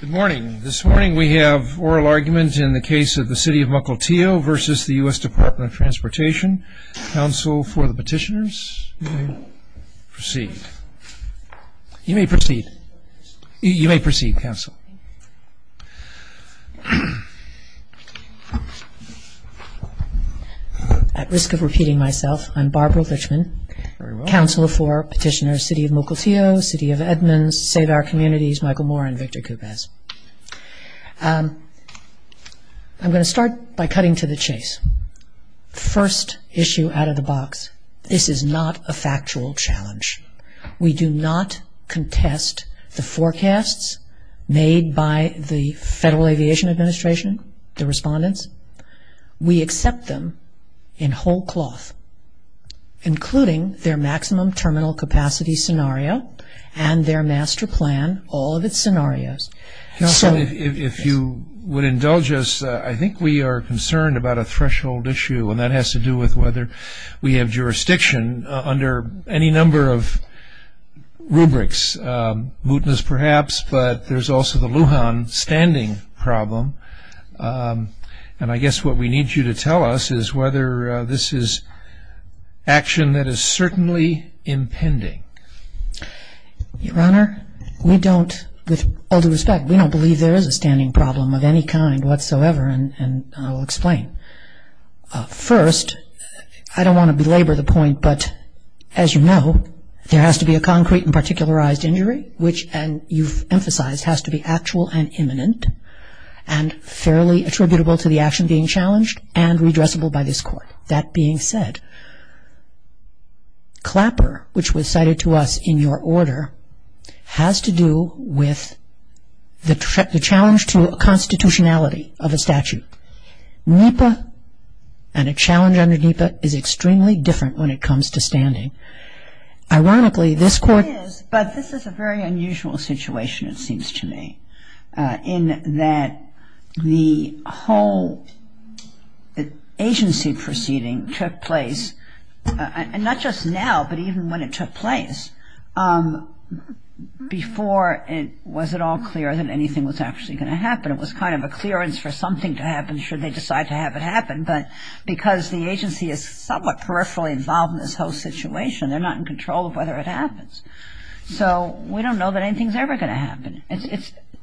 Good morning. This morning we have oral argument in the case of the City of Mukilteo v. U.S. Department of Transportation. Counsel for the petitioners, you may proceed. You may proceed. You may proceed, Counsel. At risk of repeating myself, I'm Barbara Richman, Counsel for Petitioners, City of Mukilteo, City of Edmonds, Save Our Communities, Michael Moore, and Victor Kupes. I'm going to start by cutting to the chase. First issue out of the box, this is not a factual challenge. We do not contest the forecasts made by the Federal Aviation Administration, the respondents. We accept them in whole cloth, including their maximum terminal capacity scenario and their master plan, all of its scenarios. Counsel, if you would indulge us, I think we are concerned about a threshold issue, and that has to do with whether we have jurisdiction under any number of rubrics, mootness perhaps, but there's also the Lujan standing problem. And I guess what we need you to tell us is whether this is action that is certainly impending. Your Honor, we don't, with all due respect, we don't believe there is a standing problem of any kind whatsoever, and I'll explain. First, I don't want to belabor the point, but as you know, there has to be a concrete and particularized injury, which you've emphasized has to be actual and imminent and fairly attributable to the action being challenged and redressable by this Court. That being said, Clapper, which was cited to us in your order, has to do with the challenge to constitutionality of a statute. NEPA and a challenge under NEPA is extremely different when it comes to standing. Ironically, this Court But this is a very unusual situation, it seems to me, in that the whole agency proceeding took place, and not just now, but even when it took place, before it was at all clear that anything was actually going to happen. It was kind of a clearance for something to happen should they decide to have it happen, but because the agency is somewhat peripherally involved in this whole situation, they're not in control of whether it happens. So we don't know that anything's ever going to happen.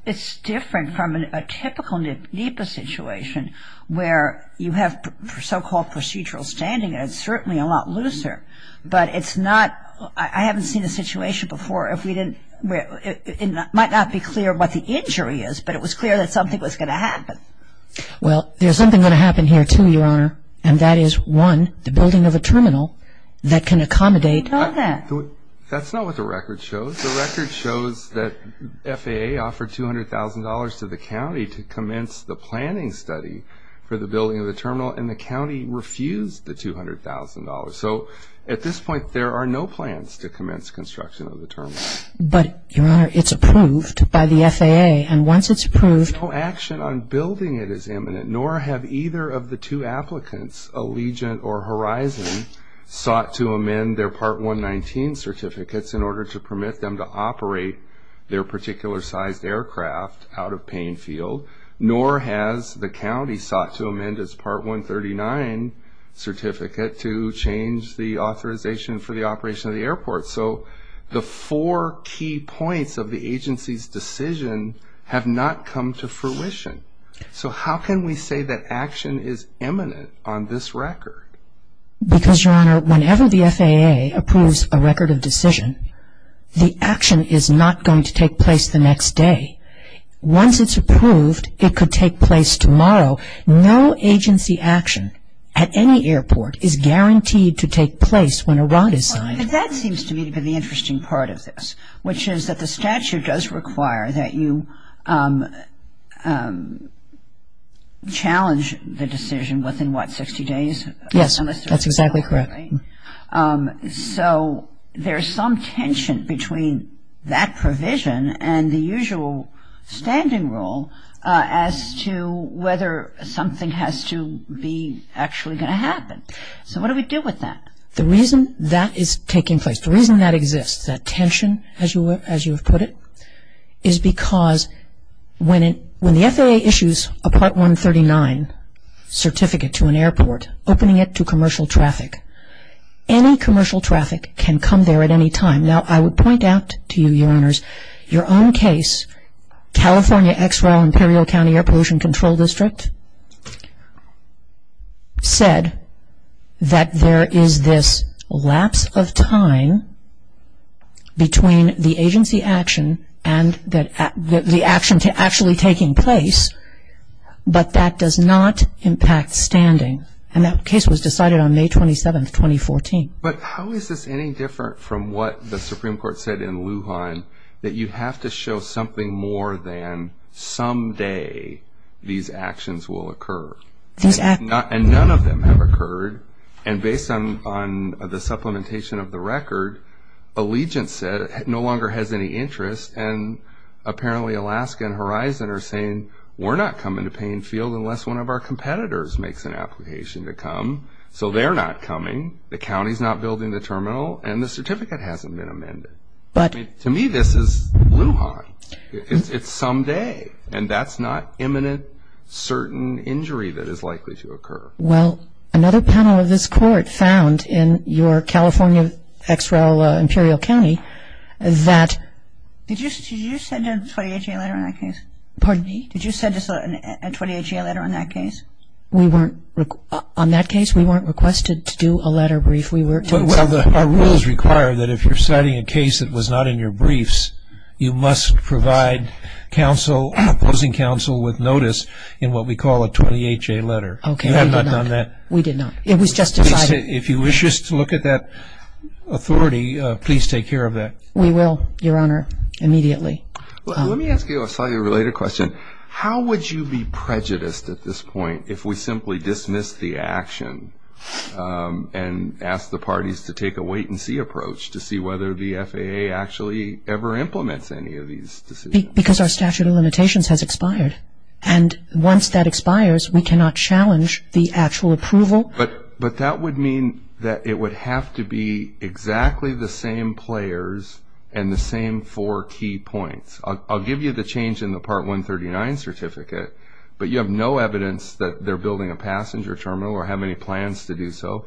It's different from a typical NEPA situation where you have so-called procedural standing, and it's certainly a lot looser, but it's not, I haven't seen a situation before if we didn't, where it might not be clear what the injury is, but it was clear that something was going to happen. Well, there's something going to happen here, too, Your Honor, and that is, one, the building of a terminal that can accommodate We know that. That's not what the record shows. The record shows that FAA offered $200,000 to the county to commence the planning study for the building of the terminal, and the county refused the $200,000. So at this point, there are no plans to commence construction of the terminal. But, Your Honor, it's approved by the FAA, and once it's approved No action on building it is imminent, nor have either of the two applicants, Allegiant or Horizon, sought to amend their Part 119 certificates in order to permit them to operate their particular-sized aircraft out of Payne Field, nor has the county sought to amend its Part 139 certificate to change the authorization for the operation of the airport. So the four key points of the agency's decision have not come to fruition. So how can we say that action is imminent on this record? Because, Your Honor, whenever the FAA approves a record of decision, the action is not going to take place the next day. Once it's approved, it could take place tomorrow. No agency action at any airport is guaranteed to take place when a ROT is signed. But that seems to me to be the interesting part of this, which is that the statute does require that you challenge the decision within, what, 60 days? Yes, that's exactly correct. So there's some tension between that provision and the usual standing rule as to whether something has to be actually going to happen. So what do we do with that? The reason that is taking place, the reason that exists, that tension, as you have put it, is because when the FAA issues a Part 139 certificate to an airport, opening it to commercial traffic, any commercial traffic can come there at any time. Now, I would point out to you, Your Honors, your own case, California XREL, Imperial County Air Pollution Control District, said that there is this lapse of time between the agency action and the action actually taking place, but that does not impact standing. And that case was decided on May 27, 2014. But how is this any different from what the Supreme Court said in Lujan, that you have to show something more than someday these actions will occur? And none of them have occurred. And based on the supplementation of the record, Allegiance said it no longer has any interest, and apparently Alaska and Horizon are saying, we're not coming to Payne Field unless one of our competitors makes an application to come. So they're not coming, the county's not building the terminal, and the certificate hasn't been amended. To me, this is Lujan. It's someday, and that's not imminent certain injury that is likely to occur. Well, another panel of this Court found in your California XREL, Imperial County, Did you send a 28-J letter in that case? Pardon me? Did you send a 28-J letter in that case? On that case, we weren't requested to do a letter brief. Well, our rules require that if you're citing a case that was not in your briefs, you must provide opposing counsel with notice in what we call a 28-J letter. Okay, we did not. You have not done that? We did not. It was just decided. If you wish us to look at that authority, please take care of that. We will, Your Honor, immediately. Let me ask you a slightly related question. How would you be prejudiced at this point if we simply dismissed the action and asked the parties to take a wait-and-see approach to see whether the FAA actually ever implements any of these decisions? Because our statute of limitations has expired. And once that expires, we cannot challenge the actual approval. But that would mean that it would have to be exactly the same players and the same four key points. I'll give you the change in the Part 139 certificate, but you have no evidence that they're building a passenger terminal or have any plans to do so.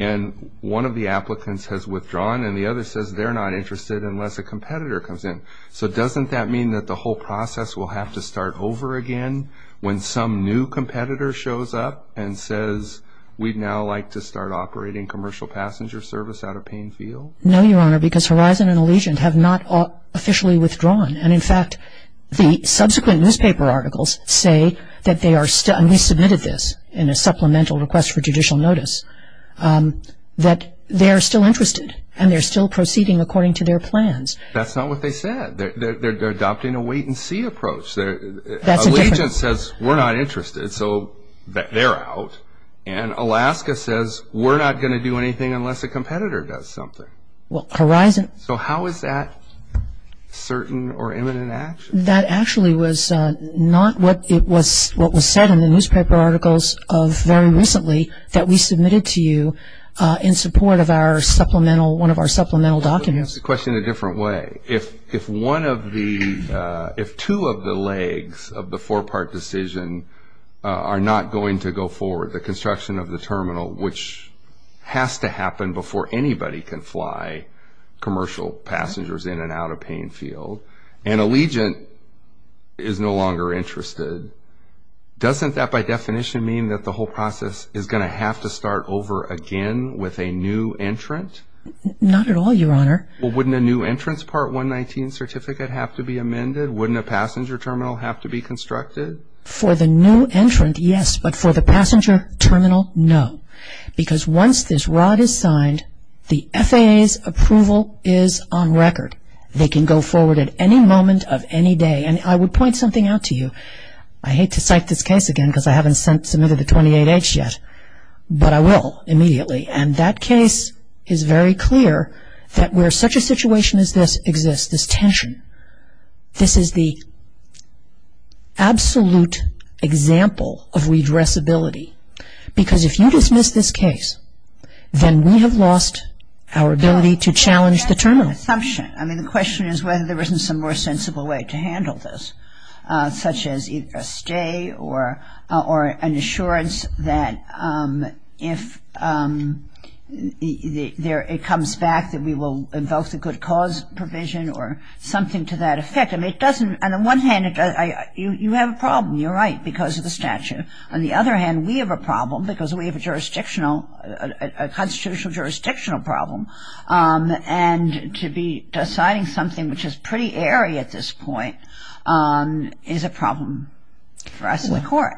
And one of the applicants has withdrawn, and the other says they're not interested unless a competitor comes in. So doesn't that mean that the whole process will have to start over again when some new competitor shows up and says, we'd now like to start operating commercial passenger service out of Payne Field? No, Your Honor, because Horizon and Allegiant have not officially withdrawn. And, in fact, the subsequent newspaper articles say that they are still and we submitted this in a supplemental request for judicial notice, that they are still interested and they're still proceeding according to their plans. That's not what they said. They're adopting a wait-and-see approach. Allegiant says, we're not interested, so they're out. And Alaska says, we're not going to do anything unless a competitor does something. So how is that certain or imminent action? That actually was not what was said in the newspaper articles very recently that we submitted to you in support of one of our supplemental documents. Let me ask the question a different way. If two of the legs of the four-part decision are not going to go forward, the construction of the terminal, which has to happen before anybody can fly commercial passengers in and out of Payne Field, and Allegiant is no longer interested, doesn't that by definition mean that the whole process is going to have to start over again with a new entrant? Not at all, Your Honor. Well, wouldn't a new entrant's Part 119 certificate have to be amended? Wouldn't a passenger terminal have to be constructed? For the new entrant, yes, but for the passenger terminal, no. Because once this rod is signed, the FAA's approval is on record. They can go forward at any moment of any day. And I would point something out to you. I hate to cite this case again because I haven't submitted the 28-H yet, but I will immediately. And that case is very clear that where such a situation as this exists, this tension, this is the absolute example of redressability. Because if you dismiss this case, then we have lost our ability to challenge the terminal. I have an assumption. I mean, the question is whether there isn't some more sensible way to handle this, such as a stay or an assurance that if it comes back that we will invoke the good cause provision or something to that effect. I mean, it doesn't ñ on the one hand, you have a problem, you're right, because of the statute. On the other hand, we have a problem because we have a jurisdictional, a constitutional jurisdictional problem. And to be deciding something which is pretty airy at this point is a problem for us in the court.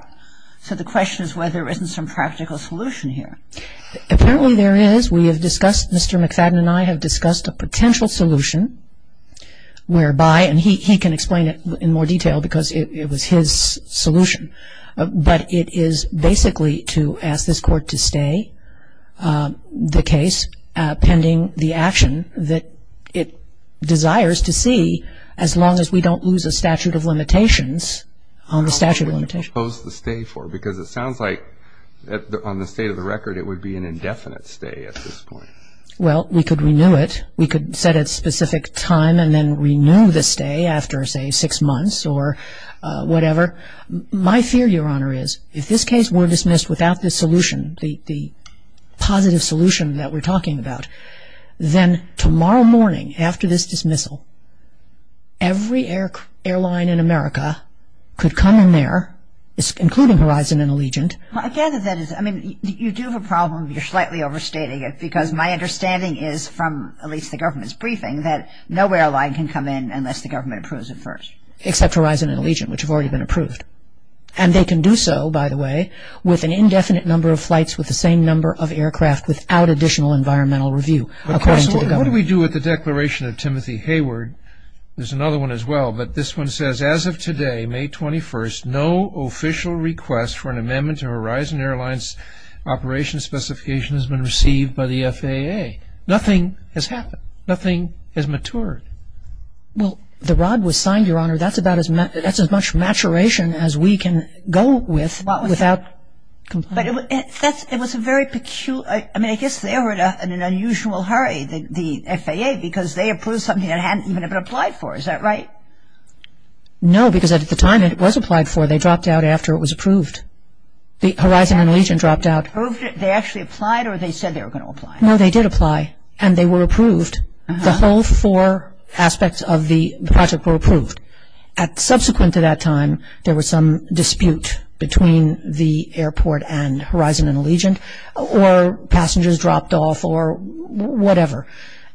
So the question is whether there isn't some practical solution here. Apparently there is. We have discussed ñ Mr. McFadden and I have discussed a potential solution whereby ñ and he can explain it in more detail because it was his solution. But it is basically to ask this court to stay the case pending the action that it desires to see, as long as we don't lose a statute of limitations on the statute of limitations. How long would it impose the stay for? Because it sounds like, on the state of the record, it would be an indefinite stay at this point. Well, we could renew it. We could set a specific time and then renew the stay after, say, six months or whatever. My fear, Your Honor, is if this case were dismissed without the solution, the positive solution that we're talking about, then tomorrow morning after this dismissal, every airline in America could come in there, including Horizon and Allegiant. I gather that is ñ I mean, you do have a problem. You're slightly overstating it because my understanding is from at least the government's briefing that no airline can come in unless the government approves it first. Except Horizon and Allegiant, which have already been approved. And they can do so, by the way, with an indefinite number of flights with the same number of aircraft without additional environmental review, according to the government. What do we do with the declaration of Timothy Hayward? There's another one as well, but this one says, as of today, May 21st, no official request for an amendment to Horizon Airlines' operation specification has been received by the FAA. Nothing has happened. Nothing has matured. Well, the ROD was signed, Your Honor. That's as much maturation as we can go with without ñ But it was a very peculiar ñ I mean, I guess they were in an unusual hurry, the FAA, because they approved something that hadn't even been applied for. Is that right? No, because at the time it was applied for, they dropped out after it was approved. Horizon and Allegiant dropped out. They actually applied or they said they were going to apply? No, they did apply. And they were approved. The whole four aspects of the project were approved. Subsequent to that time, there was some dispute between the airport and Horizon and Allegiant, or passengers dropped off or whatever.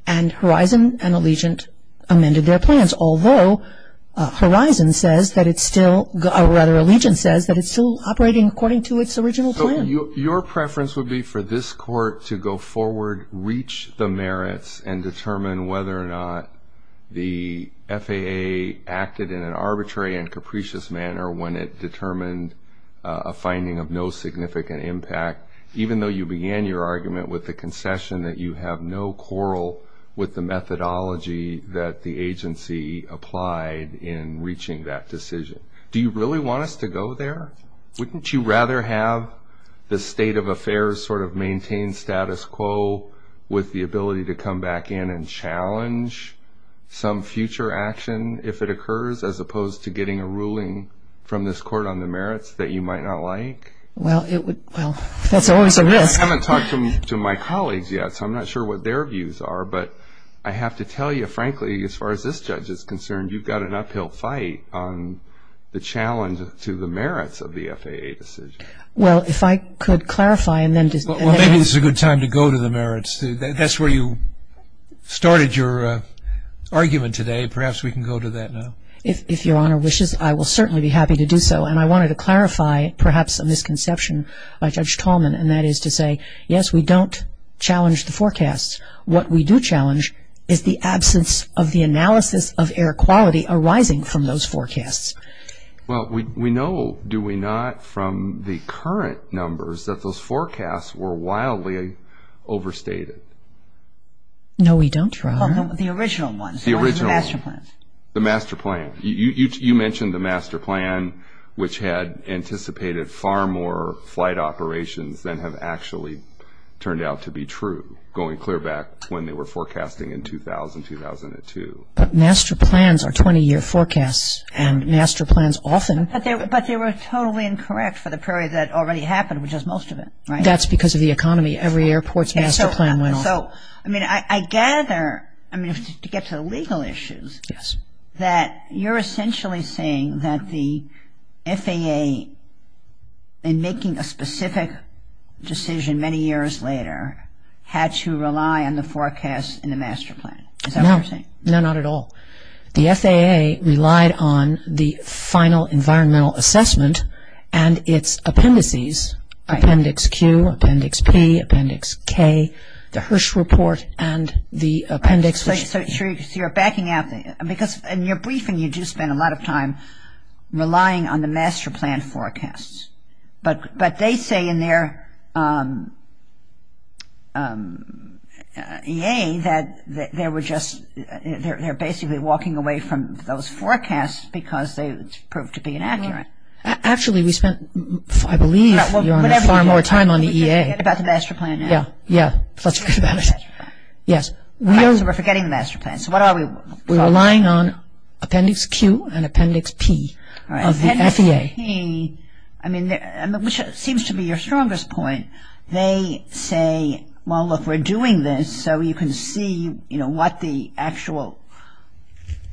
And Horizon and Allegiant amended their plans, although Horizon says that it's still ñ or rather, Allegiant says that it's still operating according to its original plan. Your preference would be for this court to go forward, reach the merits, and determine whether or not the FAA acted in an arbitrary and capricious manner when it determined a finding of no significant impact, even though you began your argument with the concession that you have no quarrel with the methodology that the agency applied in reaching that decision. Do you really want us to go there? Wouldn't you rather have the state of affairs sort of maintain status quo with the ability to come back in and challenge some future action if it occurs, as opposed to getting a ruling from this court on the merits that you might not like? Well, that's always a risk. I haven't talked to my colleagues yet, so I'm not sure what their views are. But I have to tell you, frankly, as far as this judge is concerned, you've got an uphill fight on the challenge to the merits of the FAA decision. Well, if I could clarify and then ñ Well, maybe this is a good time to go to the merits. That's where you started your argument today. Perhaps we can go to that now. If Your Honor wishes, I will certainly be happy to do so. And I wanted to clarify perhaps a misconception by Judge Tallman, and that is to say, yes, we don't challenge the forecasts. What we do challenge is the absence of the analysis of air quality arising from those forecasts. Well, we know, do we not, from the current numbers, that those forecasts were wildly overstated. No, we don't, Your Honor. The original ones. The original ones. The master plan. The master plan. You mentioned the master plan, which had anticipated far more flight operations than have actually turned out to be true, going clear back to when they were forecasting in 2000, 2002. But master plans are 20-year forecasts, and master plans often ñ But they were totally incorrect for the period that already happened, which is most of it, right? That's because of the economy. Every airport's master plan went off. So, I mean, I gather ñ I mean, to get to the legal issues, that you're essentially saying that the FAA, in making a specific decision many years later, had to rely on the forecasts in the master plan. Is that what you're saying? No, not at all. The FAA relied on the final environmental assessment and its appendices, Appendix Q, Appendix P, Appendix K, the Hirsch report, and the appendix which ñ So, you're backing out ñ because in your briefing, you do spend a lot of time relying on the master plan forecasts. But they say in their EA that they were just ñ they're basically walking away from those forecasts because they proved to be inaccurate. Actually, we spent, I believe, far more time on the EA. We should forget about the master plan now. Yeah, yeah, let's forget about it. Yes. So, we're forgetting the master plan. So, what are we ñ We're relying on Appendix Q and Appendix P of the FAA. Appendix P, I mean, which seems to be your strongest point, they say, well, look, we're doing this so you can see, you know, what the actual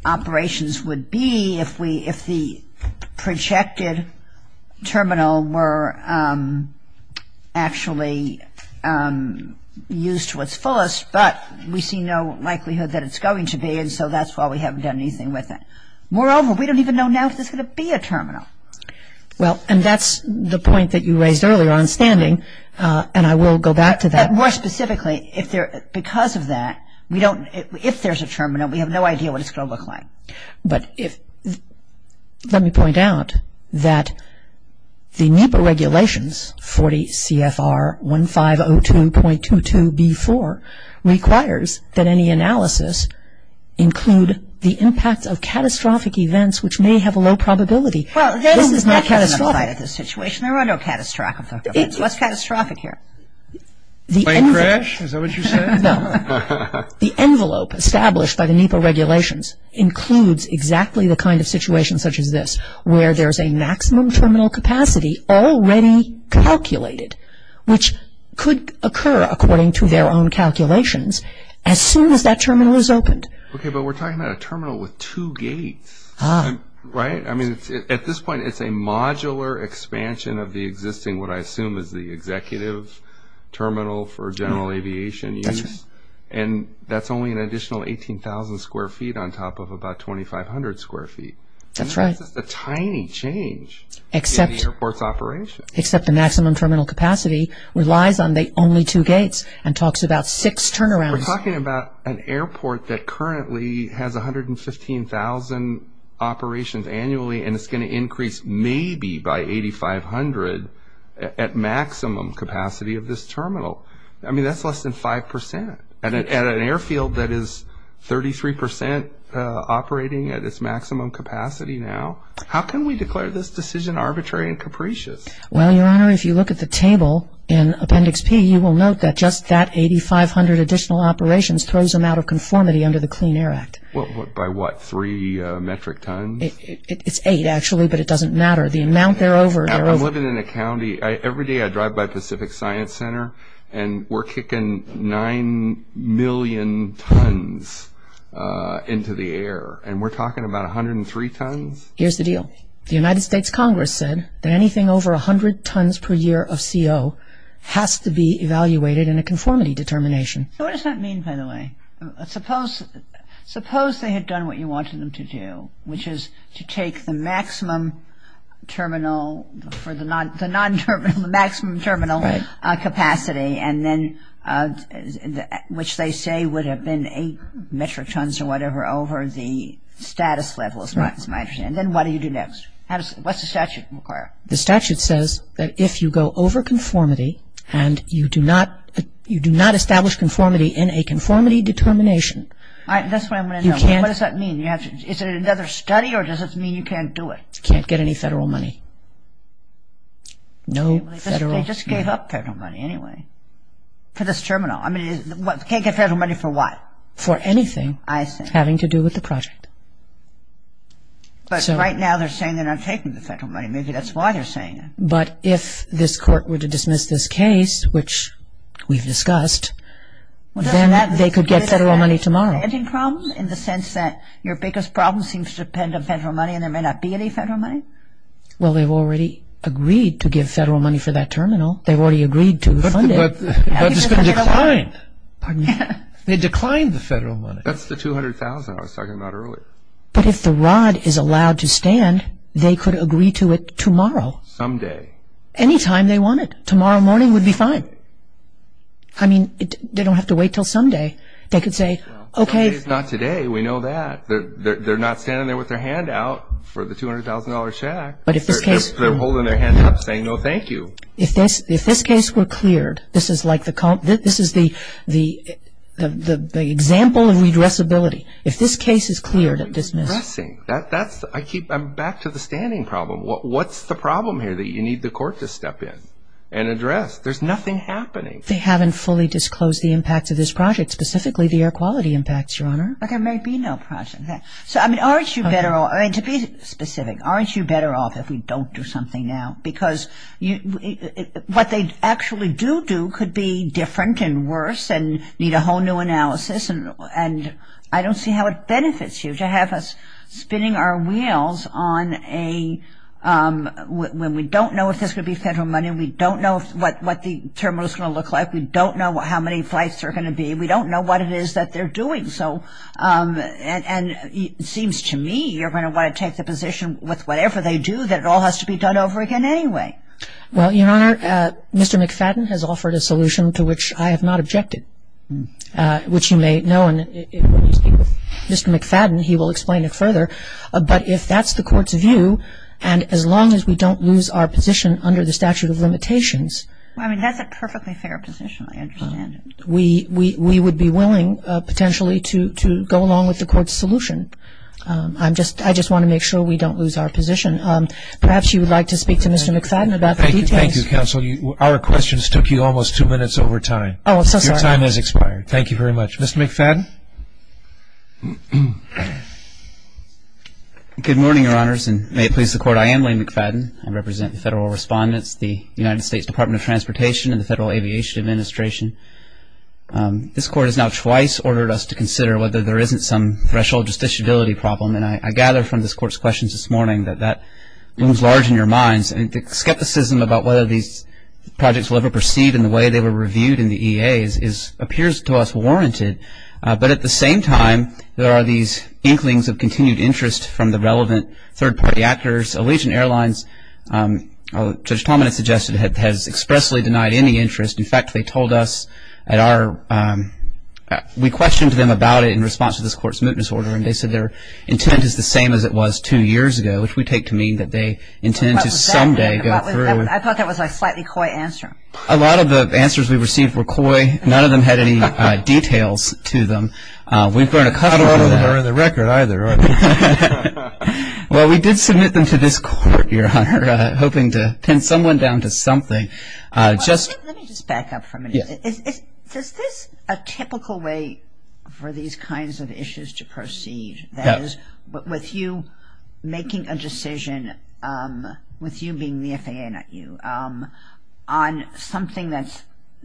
operations would be if the projected terminal were actually used to its fullest, but we see no likelihood that it's going to be, and so that's why we haven't done anything with it. Moreover, we don't even know now if there's going to be a terminal. Well, and that's the point that you raised earlier on standing, and I will go back to that. More specifically, if there ñ because of that, we don't ñ if there's a terminal, we have no idea what it's going to look like. But if ñ let me point out that the NEPA regulations, 40 CFR 1502.22B4, requires that any analysis include the impact of catastrophic events, which may have a low probability. Well, this is not catastrophic. This is not catastrophic. There are no catastrophic events. What's catastrophic here? A plane crash? Is that what you said? No. The envelope established by the NEPA regulations includes exactly the kind of situation such as this, where there's a maximum terminal capacity already calculated, which could occur according to their own calculations as soon as that terminal is opened. Okay, but we're talking about a terminal with two gates, right? I mean, at this point, it's a modular expansion of the existing, what I assume is the executive terminal for general aviation use. That's right. And that's only an additional 18,000 square feet on top of about 2,500 square feet. That's right. And that's just a tiny change in the airport's operation. Except the maximum terminal capacity relies on only two gates and talks about six turnarounds. We're talking about an airport that currently has 115,000 operations annually, and it's going to increase maybe by 8,500 at maximum capacity of this terminal. I mean, that's less than 5%. At an airfield that is 33% operating at its maximum capacity now, how can we declare this decision arbitrary and capricious? Well, Your Honor, if you look at the table in Appendix P, you will note that just that 8,500 additional operations throws them out of conformity under the Clean Air Act. By what, three metric tons? It's eight, actually, but it doesn't matter. The amount there over, there over. I'm living in a county. Every day I drive by Pacific Science Center, and we're kicking nine million tons into the air, and we're talking about 103 tons? Here's the deal. The United States Congress said that anything over 100 tons per year of CO has to be evaluated in a conformity determination. So what does that mean, by the way? Suppose they had done what you wanted them to do, which is to take the maximum terminal for the non-terminal, the maximum terminal capacity, and then which they say would have been eight metric tons or whatever over the status level, is my understanding. And then what do you do next? What's the statute require? The statute says that if you go over conformity and you do not establish conformity in a conformity determination. That's what I'm going to know. What does that mean? Is it another study, or does it mean you can't do it? You can't get any federal money. They just gave up federal money anyway for this terminal. I mean, you can't get federal money for what? For anything having to do with the project. But right now they're saying they're not taking the federal money. Maybe that's why they're saying it. But if this court were to dismiss this case, which we've discussed, then they could get federal money tomorrow. In the sense that your biggest problem seems to depend on federal money and there may not be any federal money? Well, they've already agreed to give federal money for that terminal. They've already agreed to fund it. But it's going to decline. They declined the federal money. That's the $200,000 I was talking about earlier. But if the ROD is allowed to stand, they could agree to it tomorrow. Someday. Any time they wanted. Tomorrow morning would be fine. I mean, they don't have to wait until someday. They could say, okay. Today's not today. We know that. They're not standing there with their hand out for the $200,000 check. They're holding their hands up saying, no, thank you. If this case were cleared, this is the example of redressability. If this case is cleared and dismissed. Redressing. I'm back to the standing problem. What's the problem here that you need the court to step in and address? There's nothing happening. They haven't fully disclosed the impact of this project, specifically the air quality impacts, Your Honor. There may be no project. So, I mean, aren't you better off? To be specific, aren't you better off if we don't do something now? Because what they actually do do could be different and worse and need a whole new analysis. And I don't see how it benefits you to have us spinning our wheels on a when we don't know if this would be federal money and we don't know what the terminal's going to look like. We don't know how many flights there are going to be. We don't know what it is that they're doing. And it seems to me you're going to want to take the position with whatever they do that it all has to be done over again anyway. Well, Your Honor, Mr. McFadden has offered a solution to which I have not objected, which you may know, and when you speak with Mr. McFadden, he will explain it further. But if that's the court's view, and as long as we don't lose our position under the statute of limitations we would be willing, potentially, to go along with the court's solution. I just want to make sure we don't lose our position. Perhaps you would like to speak to Mr. McFadden about the details. Thank you, counsel. Our questions took you almost two minutes over time. Oh, I'm so sorry. Your time has expired. Thank you very much. Mr. McFadden. Good morning, Your Honors, and may it please the Court, I am Lane McFadden. I represent the Federal Respondents, the United States Department of Transportation, and the Federal Aviation Administration. This Court has now twice ordered us to consider whether there isn't some threshold justiciability problem, and I gather from this Court's questions this morning that that looms large in your minds. And the skepticism about whether these projects will ever proceed in the way they were reviewed in the EAs appears to us warranted. But at the same time, there are these inklings of continued interest from the relevant third-party actors. Allegiant Airlines, Judge Talmadge suggested, has expressly denied any interest. In fact, they told us at our we questioned them about it in response to this Court's mootness order, and they said their intent is the same as it was two years ago, which we take to mean that they intend to someday go through. I thought that was a slightly coy answer. A lot of the answers we received were coy. None of them had any details to them. We've learned a couple from that. Not a lot of them are in the record either. Well, we did submit them to this Court, Your Honor, hoping to pin someone down to something. Let me just back up for a minute. Is this a typical way for these kinds of issues to proceed? That is, with you making a decision, with you being the FAA, not you, on something that's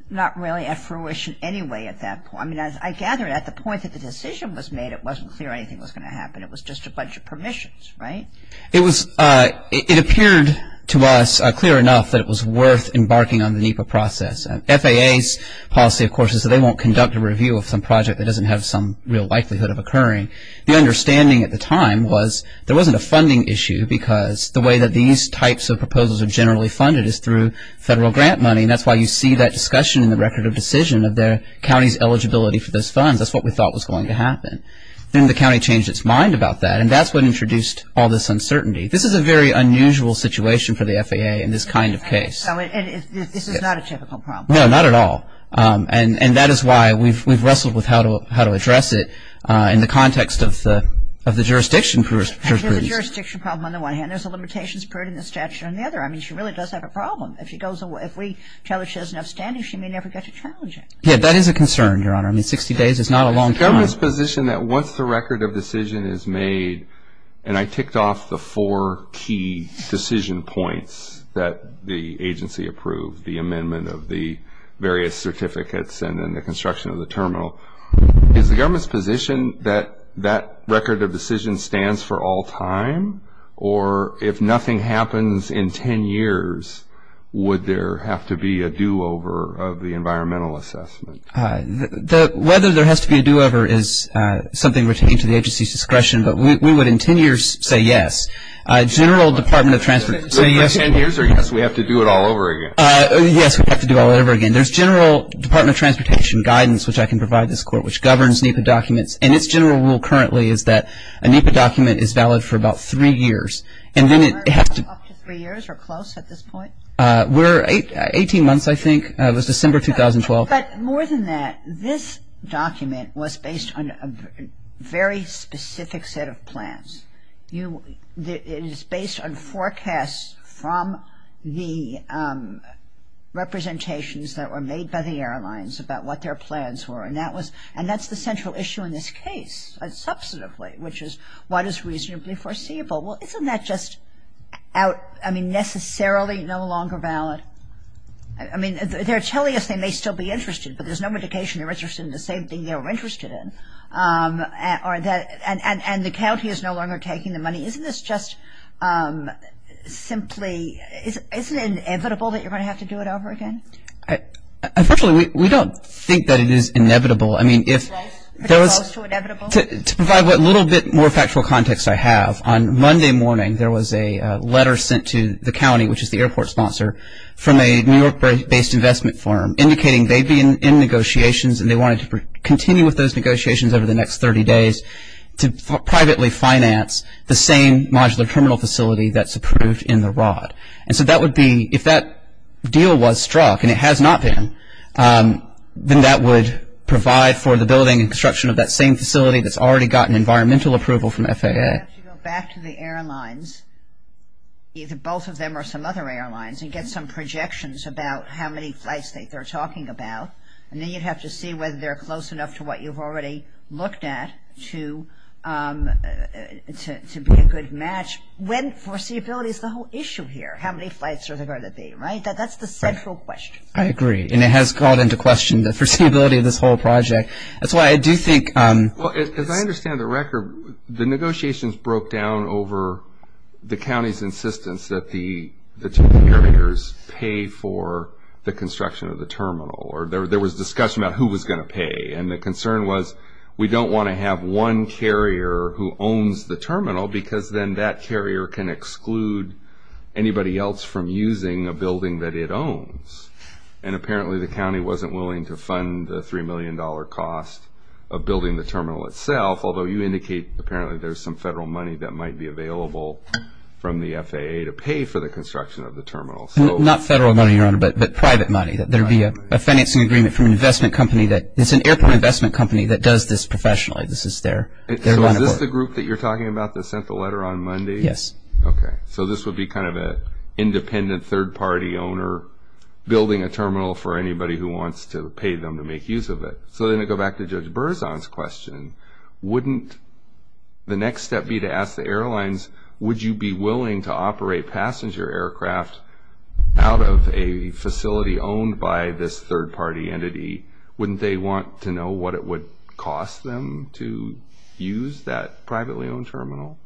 not really at fruition anyway at that point? I mean, I gather at the point that the decision was made, it wasn't clear anything was going to happen. It was just a bunch of permissions, right? It appeared to us clear enough that it was worth embarking on the NEPA process. FAA's policy, of course, is that they won't conduct a review of some project that doesn't have some real likelihood of occurring. The understanding at the time was there wasn't a funding issue because the way that these types of proposals are generally funded is through federal grant money, and that's why you see that discussion in the record of decision of their county's eligibility for those funds. That's what we thought was going to happen. Then the county changed its mind about that, and that's what introduced all this uncertainty. This is a very unusual situation for the FAA in this kind of case. So this is not a typical problem? No, not at all. And that is why we've wrestled with how to address it in the context of the jurisdiction. There's a jurisdiction problem on the one hand. There's a limitations period in the statute on the other. I mean, she really does have a problem. If we tell her she has an upstanding, she may never get to challenge it. Yeah, that is a concern, Your Honor. I mean, 60 days is not a long time. The government's position that once the record of decision is made, and I ticked off the four key decision points that the agency approved, the amendment of the various certificates and then the construction of the terminal, is the government's position that that record of decision stands for all time? Or if nothing happens in 10 years, would there have to be a do-over of the environmental assessment? Whether there has to be a do-over is something retained to the agency's discretion, but we would in 10 years say yes. General Department of Transport would say yes. In 10 years or yes, we have to do it all over again? Yes, we have to do it all over again. There's general Department of Transportation guidance, which I can provide this Court, which governs NEPA documents, and its general rule currently is that a NEPA document is valid for about three years. Up to three years or close at this point? Eighteen months, I think. It was December 2012. But more than that, this document was based on a very specific set of plans. It is based on forecasts from the representations that were made by the airlines about what their plans were, and that's the central issue in this case, substantively, which is what is reasonably foreseeable. Well, isn't that just necessarily no longer valid? I mean, they're telling us they may still be interested, but there's no indication they're interested in the same thing they were interested in. And the county is no longer taking the money. Isn't this just simply – isn't it inevitable that you're going to have to do it over again? Unfortunately, we don't think that it is inevitable. Close to inevitable? To provide what little bit more factual context I have, on Monday morning there was a letter sent to the county, which is the airport sponsor, from a New York-based investment firm indicating they'd be in negotiations and they wanted to continue with those negotiations over the next 30 days to privately finance the same modular terminal facility that's approved in the ROD. And so that would be – if that deal was struck, and it has not been, then that would provide for the building and construction of that same facility that's already gotten environmental approval from FAA. You'd have to go back to the airlines, either both of them or some other airlines, and get some projections about how many flights they're talking about, and then you'd have to see whether they're close enough to what you've already looked at to be a good match when foreseeability is the whole issue here, how many flights are there going to be, right? That's the central question. I agree, and it has called into question the foreseeability of this whole project. That's why I do think – Well, as I understand the record, the negotiations broke down over the county's insistence that the two carriers pay for the construction of the terminal or there was discussion about who was going to pay, and the concern was we don't want to have one carrier who owns the terminal because then that carrier can exclude anybody else from using a building that it owns. And apparently the county wasn't willing to fund the $3 million cost of building the terminal itself, although you indicate apparently there's some federal money that might be available from the FAA to pay for the construction of the terminal. Not federal money, Your Honor, but private money, that there be a financing agreement from an investment company that – it's an airport investment company that does this professionally. This is their line of work. So is this the group that you're talking about that sent the letter on Monday? Yes. Okay. So this would be kind of an independent third-party owner building a terminal for anybody who wants to pay them to make use of it. So then to go back to Judge Berzon's question, wouldn't the next step be to ask the airlines, would you be willing to operate passenger aircraft out of a facility owned by this third-party entity? Wouldn't they want to know what it would cost them to use that privately owned terminal?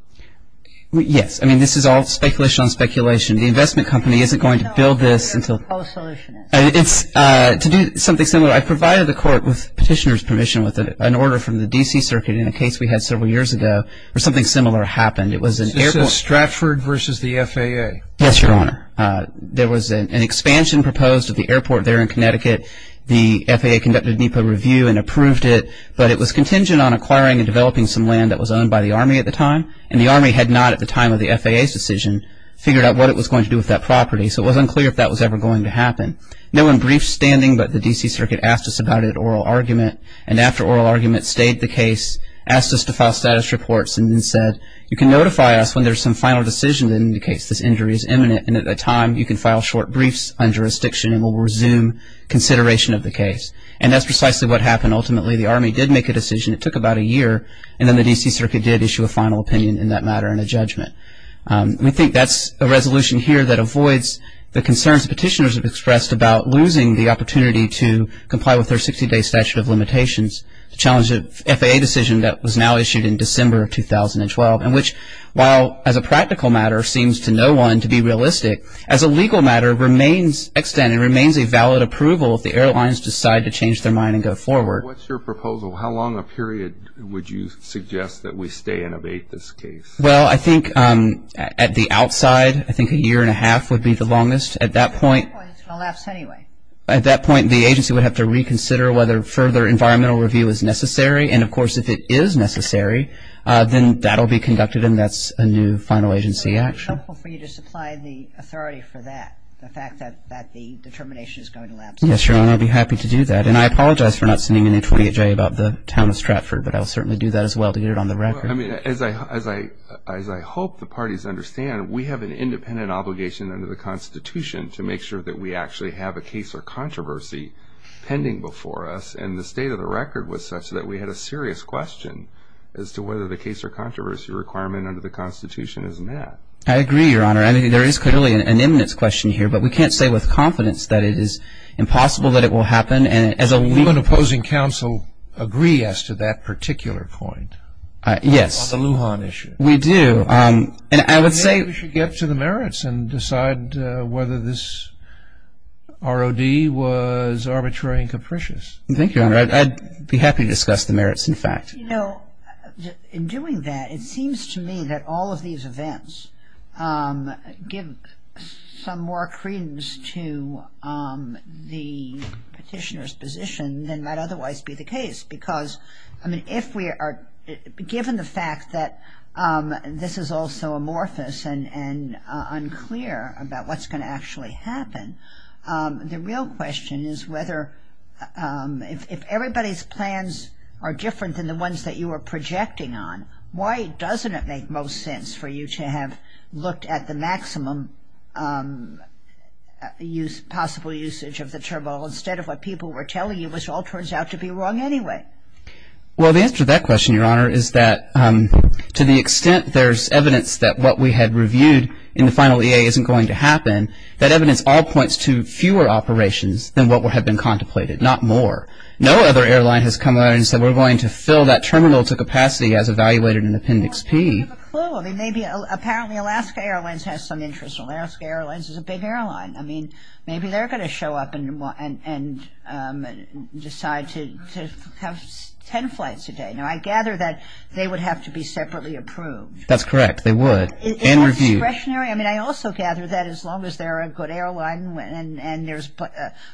Yes. I mean, this is all speculation on speculation. The investment company isn't going to build this until – No, no, no. We're a post-solutionist. To do something similar, I provided the court with petitioner's permission with an order from the D.C. Circuit in a case we had several years ago where something similar happened. It was an airport – This is Stratford versus the FAA. Yes, Your Honor. There was an expansion proposed at the airport there in Connecticut. The FAA conducted a review and approved it, but it was contingent on acquiring and developing some land that was owned by the Army at the time, and the Army had not at the time of the FAA's decision figured out what it was going to do with that property, so it wasn't clear if that was ever going to happen. No one briefed standing, but the D.C. Circuit asked us about it at oral argument, and after oral argument stayed the case, asked us to file status reports, and then said you can notify us when there's some final decision that indicates this injury is imminent, and at that time you can file short briefs on jurisdiction and we'll resume consideration of the case, and that's precisely what happened. Ultimately, the Army did make a decision. It took about a year, and then the D.C. Circuit did issue a final opinion in that matter and a judgment. We think that's a resolution here that avoids the concerns petitioners have expressed about losing the opportunity to comply with their 60-day statute of limitations. The challenge of FAA decision that was now issued in December of 2012, in which while as a practical matter seems to no one to be realistic, as a legal matter remains extended, remains a valid approval if the airlines decide to change their mind and go forward. What's your proposal? How long a period would you suggest that we stay and abate this case? Well, I think at the outside, I think a year and a half would be the longest. At that point, the agency would have to reconsider whether further environmental review is necessary, and, of course, if it is necessary, then that will be conducted and that's a new final agency action. So it would be helpful for you to supply the authority for that, the fact that the determination is going to lapse? Yes, Your Honor, I'd be happy to do that. And I apologize for not sending in a 28-J about the town of Stratford, but I'll certainly do that as well to get it on the record. As I hope the parties understand, we have an independent obligation under the Constitution to make sure that we actually have a case or controversy pending before us, and the state of the record was such that we had a serious question as to whether the case or controversy requirement under the Constitution is met. I agree, Your Honor. I mean, there is clearly an imminence question here, but we can't say with confidence that it is impossible that it will happen. Will an opposing counsel agree as to that particular point? Yes. On the Lujan issue. We do. And I would say we should get to the merits and decide whether this ROD was arbitrary and capricious. Thank you, Your Honor. I'd be happy to discuss the merits, in fact. You know, in doing that, it seems to me that all of these events give some more credence to the petitioner's position than might otherwise be the case, because, I mean, if we are given the fact that this is all so amorphous and unclear about what's going to actually happen, the real question is whether if everybody's plans are different than the ones that you were projecting on, why doesn't it make most sense for you to have looked at the maximum possible usage of the turmoil instead of what people were telling you, which all turns out to be wrong anyway? Well, the answer to that question, Your Honor, is that to the extent there's evidence that what we had reviewed in the final EA isn't going to happen, that evidence all points to fewer operations than what had been contemplated, not more. No other airline has come out and said we're going to fill that terminal to capacity as evaluated in Appendix P. Well, I don't have a clue. I mean, maybe apparently Alaska Airlines has some interest. Alaska Airlines is a big airline. I mean, maybe they're going to show up and decide to have ten flights a day. Now, I gather that they would have to be separately approved. That's correct. They would and reviewed. Is that discretionary? I mean, I also gather that as long as they're a good airline and there's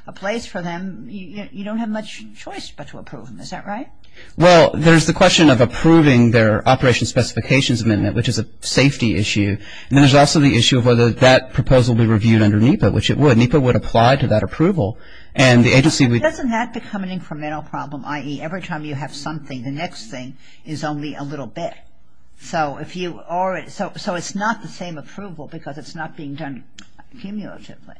a place for them, you don't have much choice but to approve them. Is that right? Well, there's the question of approving their operation specifications amendment, which is a safety issue, and then there's also the issue of whether that proposal will be reviewed under NEPA, which it would. NEPA would apply to that approval and the agency would Doesn't that become an incremental problem, i.e., every time you have something, the next thing is only a little bit? So it's not the same approval because it's not being done cumulatively.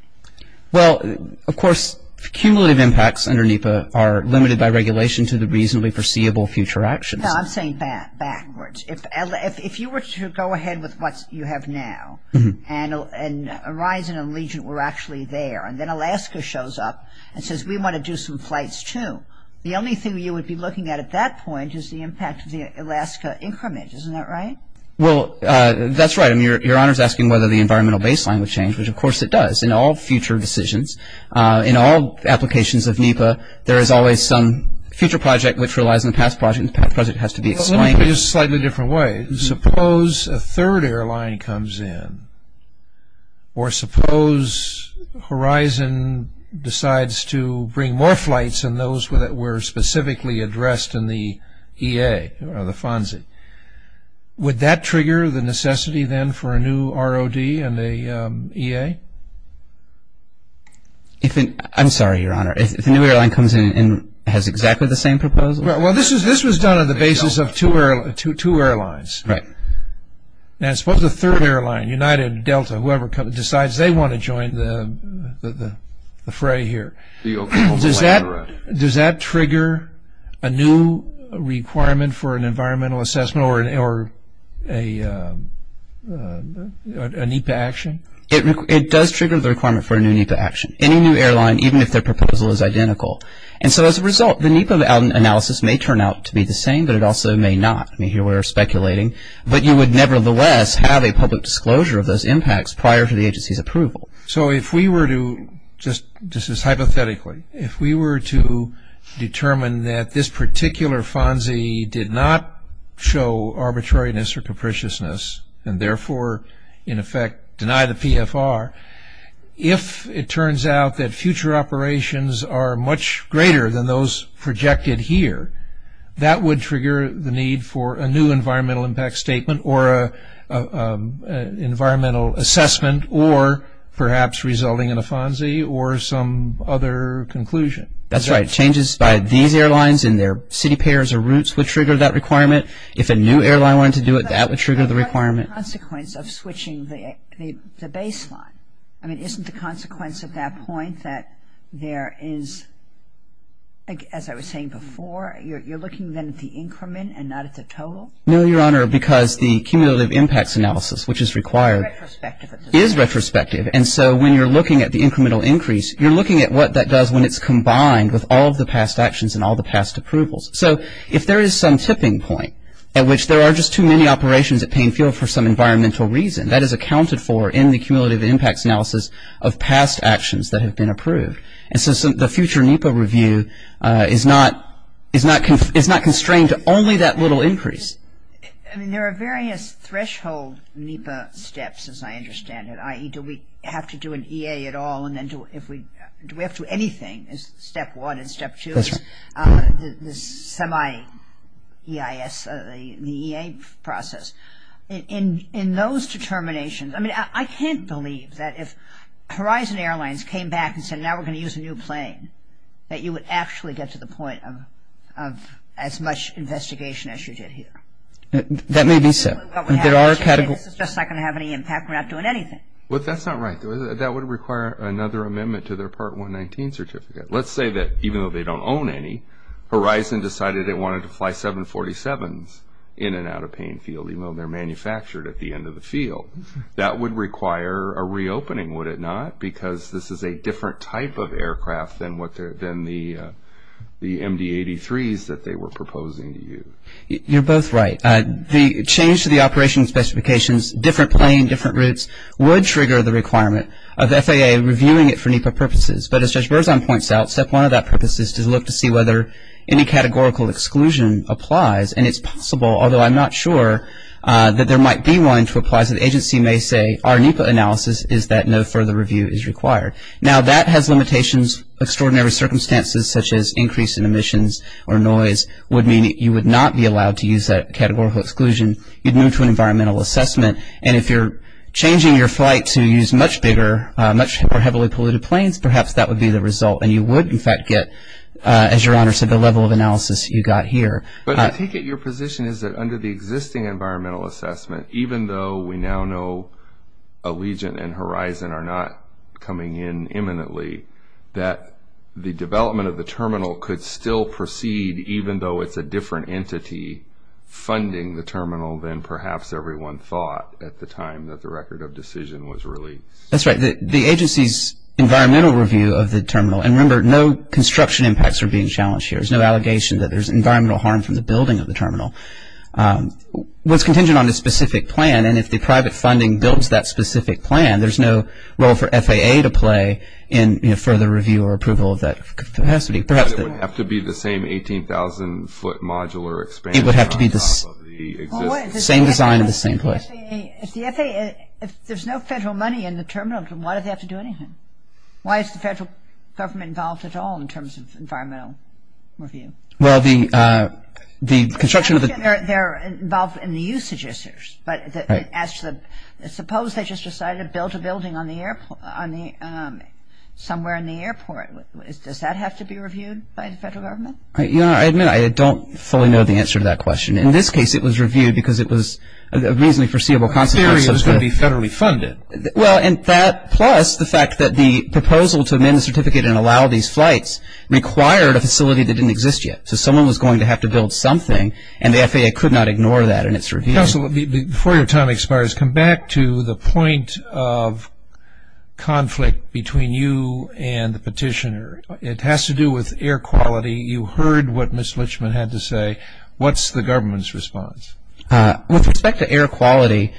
Well, of course, cumulative impacts under NEPA are limited by regulation to the reasonably foreseeable future actions. No, I'm saying backwards. If you were to go ahead with what you have now and Horizon and Legion were actually there and then Alaska shows up and says we want to do some flights too, the only thing you would be looking at at that point is the impact of the Alaska increment. Isn't that right? Well, that's right. I mean, Your Honor is asking whether the environmental baseline would change, which of course it does in all future decisions. In all applications of NEPA, there is always some future project which relies on the past project and the past project has to be explained. Let me put it in a slightly different way. Suppose a third airline comes in or suppose Horizon decides to bring more flights than those that were specifically addressed in the EA or the FONSI. Would that trigger the necessity then for a new ROD and an EA? I'm sorry, Your Honor. If a new airline comes in and has exactly the same proposal? Well, this was done on the basis of two airlines. Right. Now suppose a third airline, United, Delta, whoever decides they want to join the fray here. Does that trigger a new requirement for an environmental assessment or a NEPA action? It does trigger the requirement for a new NEPA action. Any new airline, even if their proposal is identical. And so as a result, the NEPA analysis may turn out to be the same, but it also may not. I mean, here we are speculating, but you would nevertheless have a public disclosure of those impacts prior to the agency's approval. So if we were to, just as hypothetically, if we were to determine that this particular FONSI did not show arbitrariness or capriciousness and therefore in effect deny the PFR, if it turns out that future operations are much greater than those projected here, that would trigger the need for a new environmental impact statement or an environmental assessment or perhaps resulting in a FONSI or some other conclusion. That's right. Changes by these airlines in their city pairs or routes would trigger that requirement. If a new airline wanted to do it, that would trigger the requirement. What is the consequence of switching the baseline? I mean, isn't the consequence at that point that there is, as I was saying before, you're looking then at the increment and not at the total? No, Your Honor, because the cumulative impacts analysis, which is required, is retrospective. And so when you're looking at the incremental increase, you're looking at what that does when it's combined with all of the past actions and all the past approvals. So if there is some tipping point at which there are just too many operations at Payne Field for some environmental reason, that is accounted for in the cumulative impacts analysis of past actions that have been approved. And so the future NEPA review is not constrained to only that little increase. I mean, there are various threshold NEPA steps, as I understand it, i.e., do we have to do an EA at all? Do we have to do anything is step one and step two. The semi-EIS, the EA process. In those determinations, I mean, I can't believe that if Horizon Airlines came back and said, now we're going to use a new plane, that you would actually get to the point of as much investigation as you did here. That may be so. This is just not going to have any impact. We're not doing anything. That's not right. That would require another amendment to their Part 119 certificate. Let's say that even though they don't own any, Horizon decided they wanted to fly 747s in and out of Payne Field, even though they're manufactured at the end of the field. That would require a reopening, would it not? Because this is a different type of aircraft than the MD-83s that they were proposing to use. You're both right. The change to the operation specifications, different plane, different routes, would trigger the requirement of FAA reviewing it for NEPA purposes. But as Judge Berzon points out, step one of that purpose is to look to see whether any categorical exclusion applies. And it's possible, although I'm not sure, that there might be one to apply. So the agency may say our NEPA analysis is that no further review is required. Now, that has limitations, extraordinary circumstances, such as increase in emissions or noise would mean you would not be allowed to use that categorical exclusion. You'd move to an environmental assessment. And if you're changing your flight to use much bigger, much more heavily polluted planes, perhaps that would be the result. And you would, in fact, get, as your Honor said, the level of analysis you got here. But I take it your position is that under the existing environmental assessment, even though we now know Allegiant and Horizon are not coming in imminently, that the development of the terminal could still proceed, even though it's a different entity funding the terminal than perhaps everyone thought at the time that the record of decision was released. That's right. The agency's environmental review of the terminal, and remember no construction impacts are being challenged here, there's no allegation that there's environmental harm from the building of the terminal, was contingent on a specific plan. And if the private funding builds that specific plan, there's no role for FAA to play in further review or approval of that capacity. It would have to be the same 18,000-foot modular expansion on top of the existing... It would have to be the same design in the same place. If there's no federal money in the terminal, why do they have to do anything? Why is the federal government involved at all in terms of environmental review? Well, the construction of the... They're involved in the usage issues. But suppose they just decided to build a building somewhere in the airport. Does that have to be reviewed by the federal government? You know, I admit I don't fully know the answer to that question. In this case, it was reviewed because it was a reasonably foreseeable consequence of the... In theory, it was going to be federally funded. Well, and that plus the fact that the proposal to amend the certificate and allow these flights required a facility that didn't exist yet. So someone was going to have to build something, and the FAA could not ignore that in its review. Counsel, before your time expires, come back to the point of conflict between you and the petitioner. It has to do with air quality. You heard what Ms. Litchman had to say. What's the government's response? With respect to air quality,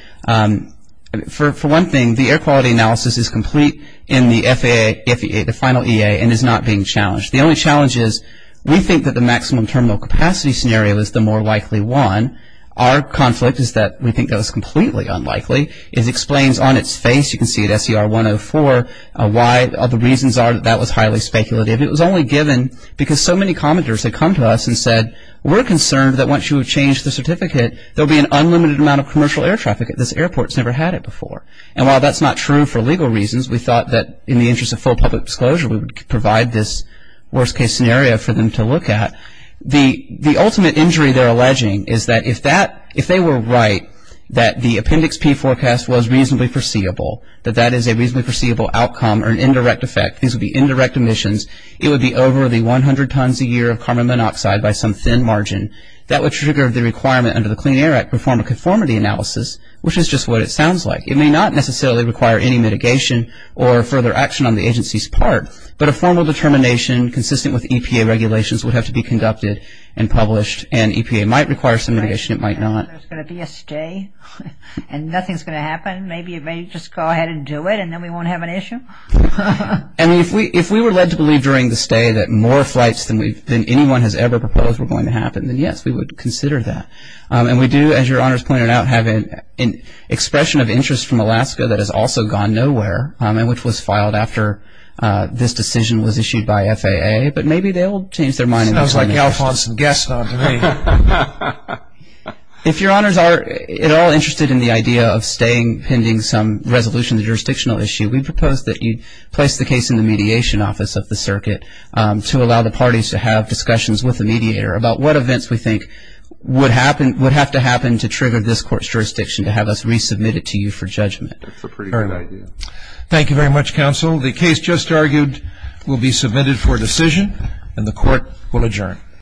for one thing, the air quality analysis is complete in the FAA, the final EA, and is not being challenged. The only challenge is we think that the maximum terminal capacity scenario is the more likely one. Our conflict is that we think that it's completely unlikely. It explains on its face, you can see it, SCR 104, why the reasons are that that was highly speculative. It was only given because so many commenters had come to us and said, we're concerned that once you have changed the certificate, there will be an unlimited amount of commercial air traffic at this airport. It's never had it before. And while that's not true for legal reasons, we thought that in the interest of full public disclosure, we would provide this worst-case scenario for them to look at. The ultimate injury they're alleging is that if they were right, that the appendix P forecast was reasonably foreseeable, that that is a reasonably foreseeable outcome or an indirect effect, these would be indirect emissions, it would be over the 100 tons a year of carbon monoxide by some thin margin. That would trigger the requirement under the Clean Air Act to perform a conformity analysis, which is just what it sounds like. It may not necessarily require any mitigation or further action on the agency's part, but a formal determination consistent with EPA regulations would have to be conducted and published, and EPA might require some mitigation, it might not. There's going to be a stay, and nothing's going to happen. Maybe it may just go ahead and do it, and then we won't have an issue. And if we were led to believe during the stay that more flights than anyone has ever proposed were going to happen, then yes, we would consider that. And we do, as Your Honors pointed out, have an expression of interest from Alaska that has also gone nowhere, and which was filed after this decision was issued by FAA, but maybe they'll change their mind in this limitation. Sounds like Alfonso Gaston to me. If Your Honors are at all interested in the idea of staying pending some resolution of the jurisdictional issue, we propose that you place the case in the mediation office of the circuit to allow the parties to have discussions with the mediator about what events we think would happen, would have to happen to trigger this court's jurisdiction to have us resubmit it to you for judgment. That's a pretty good idea. Thank you very much, counsel. The case just argued will be submitted for decision, and the court will adjourn.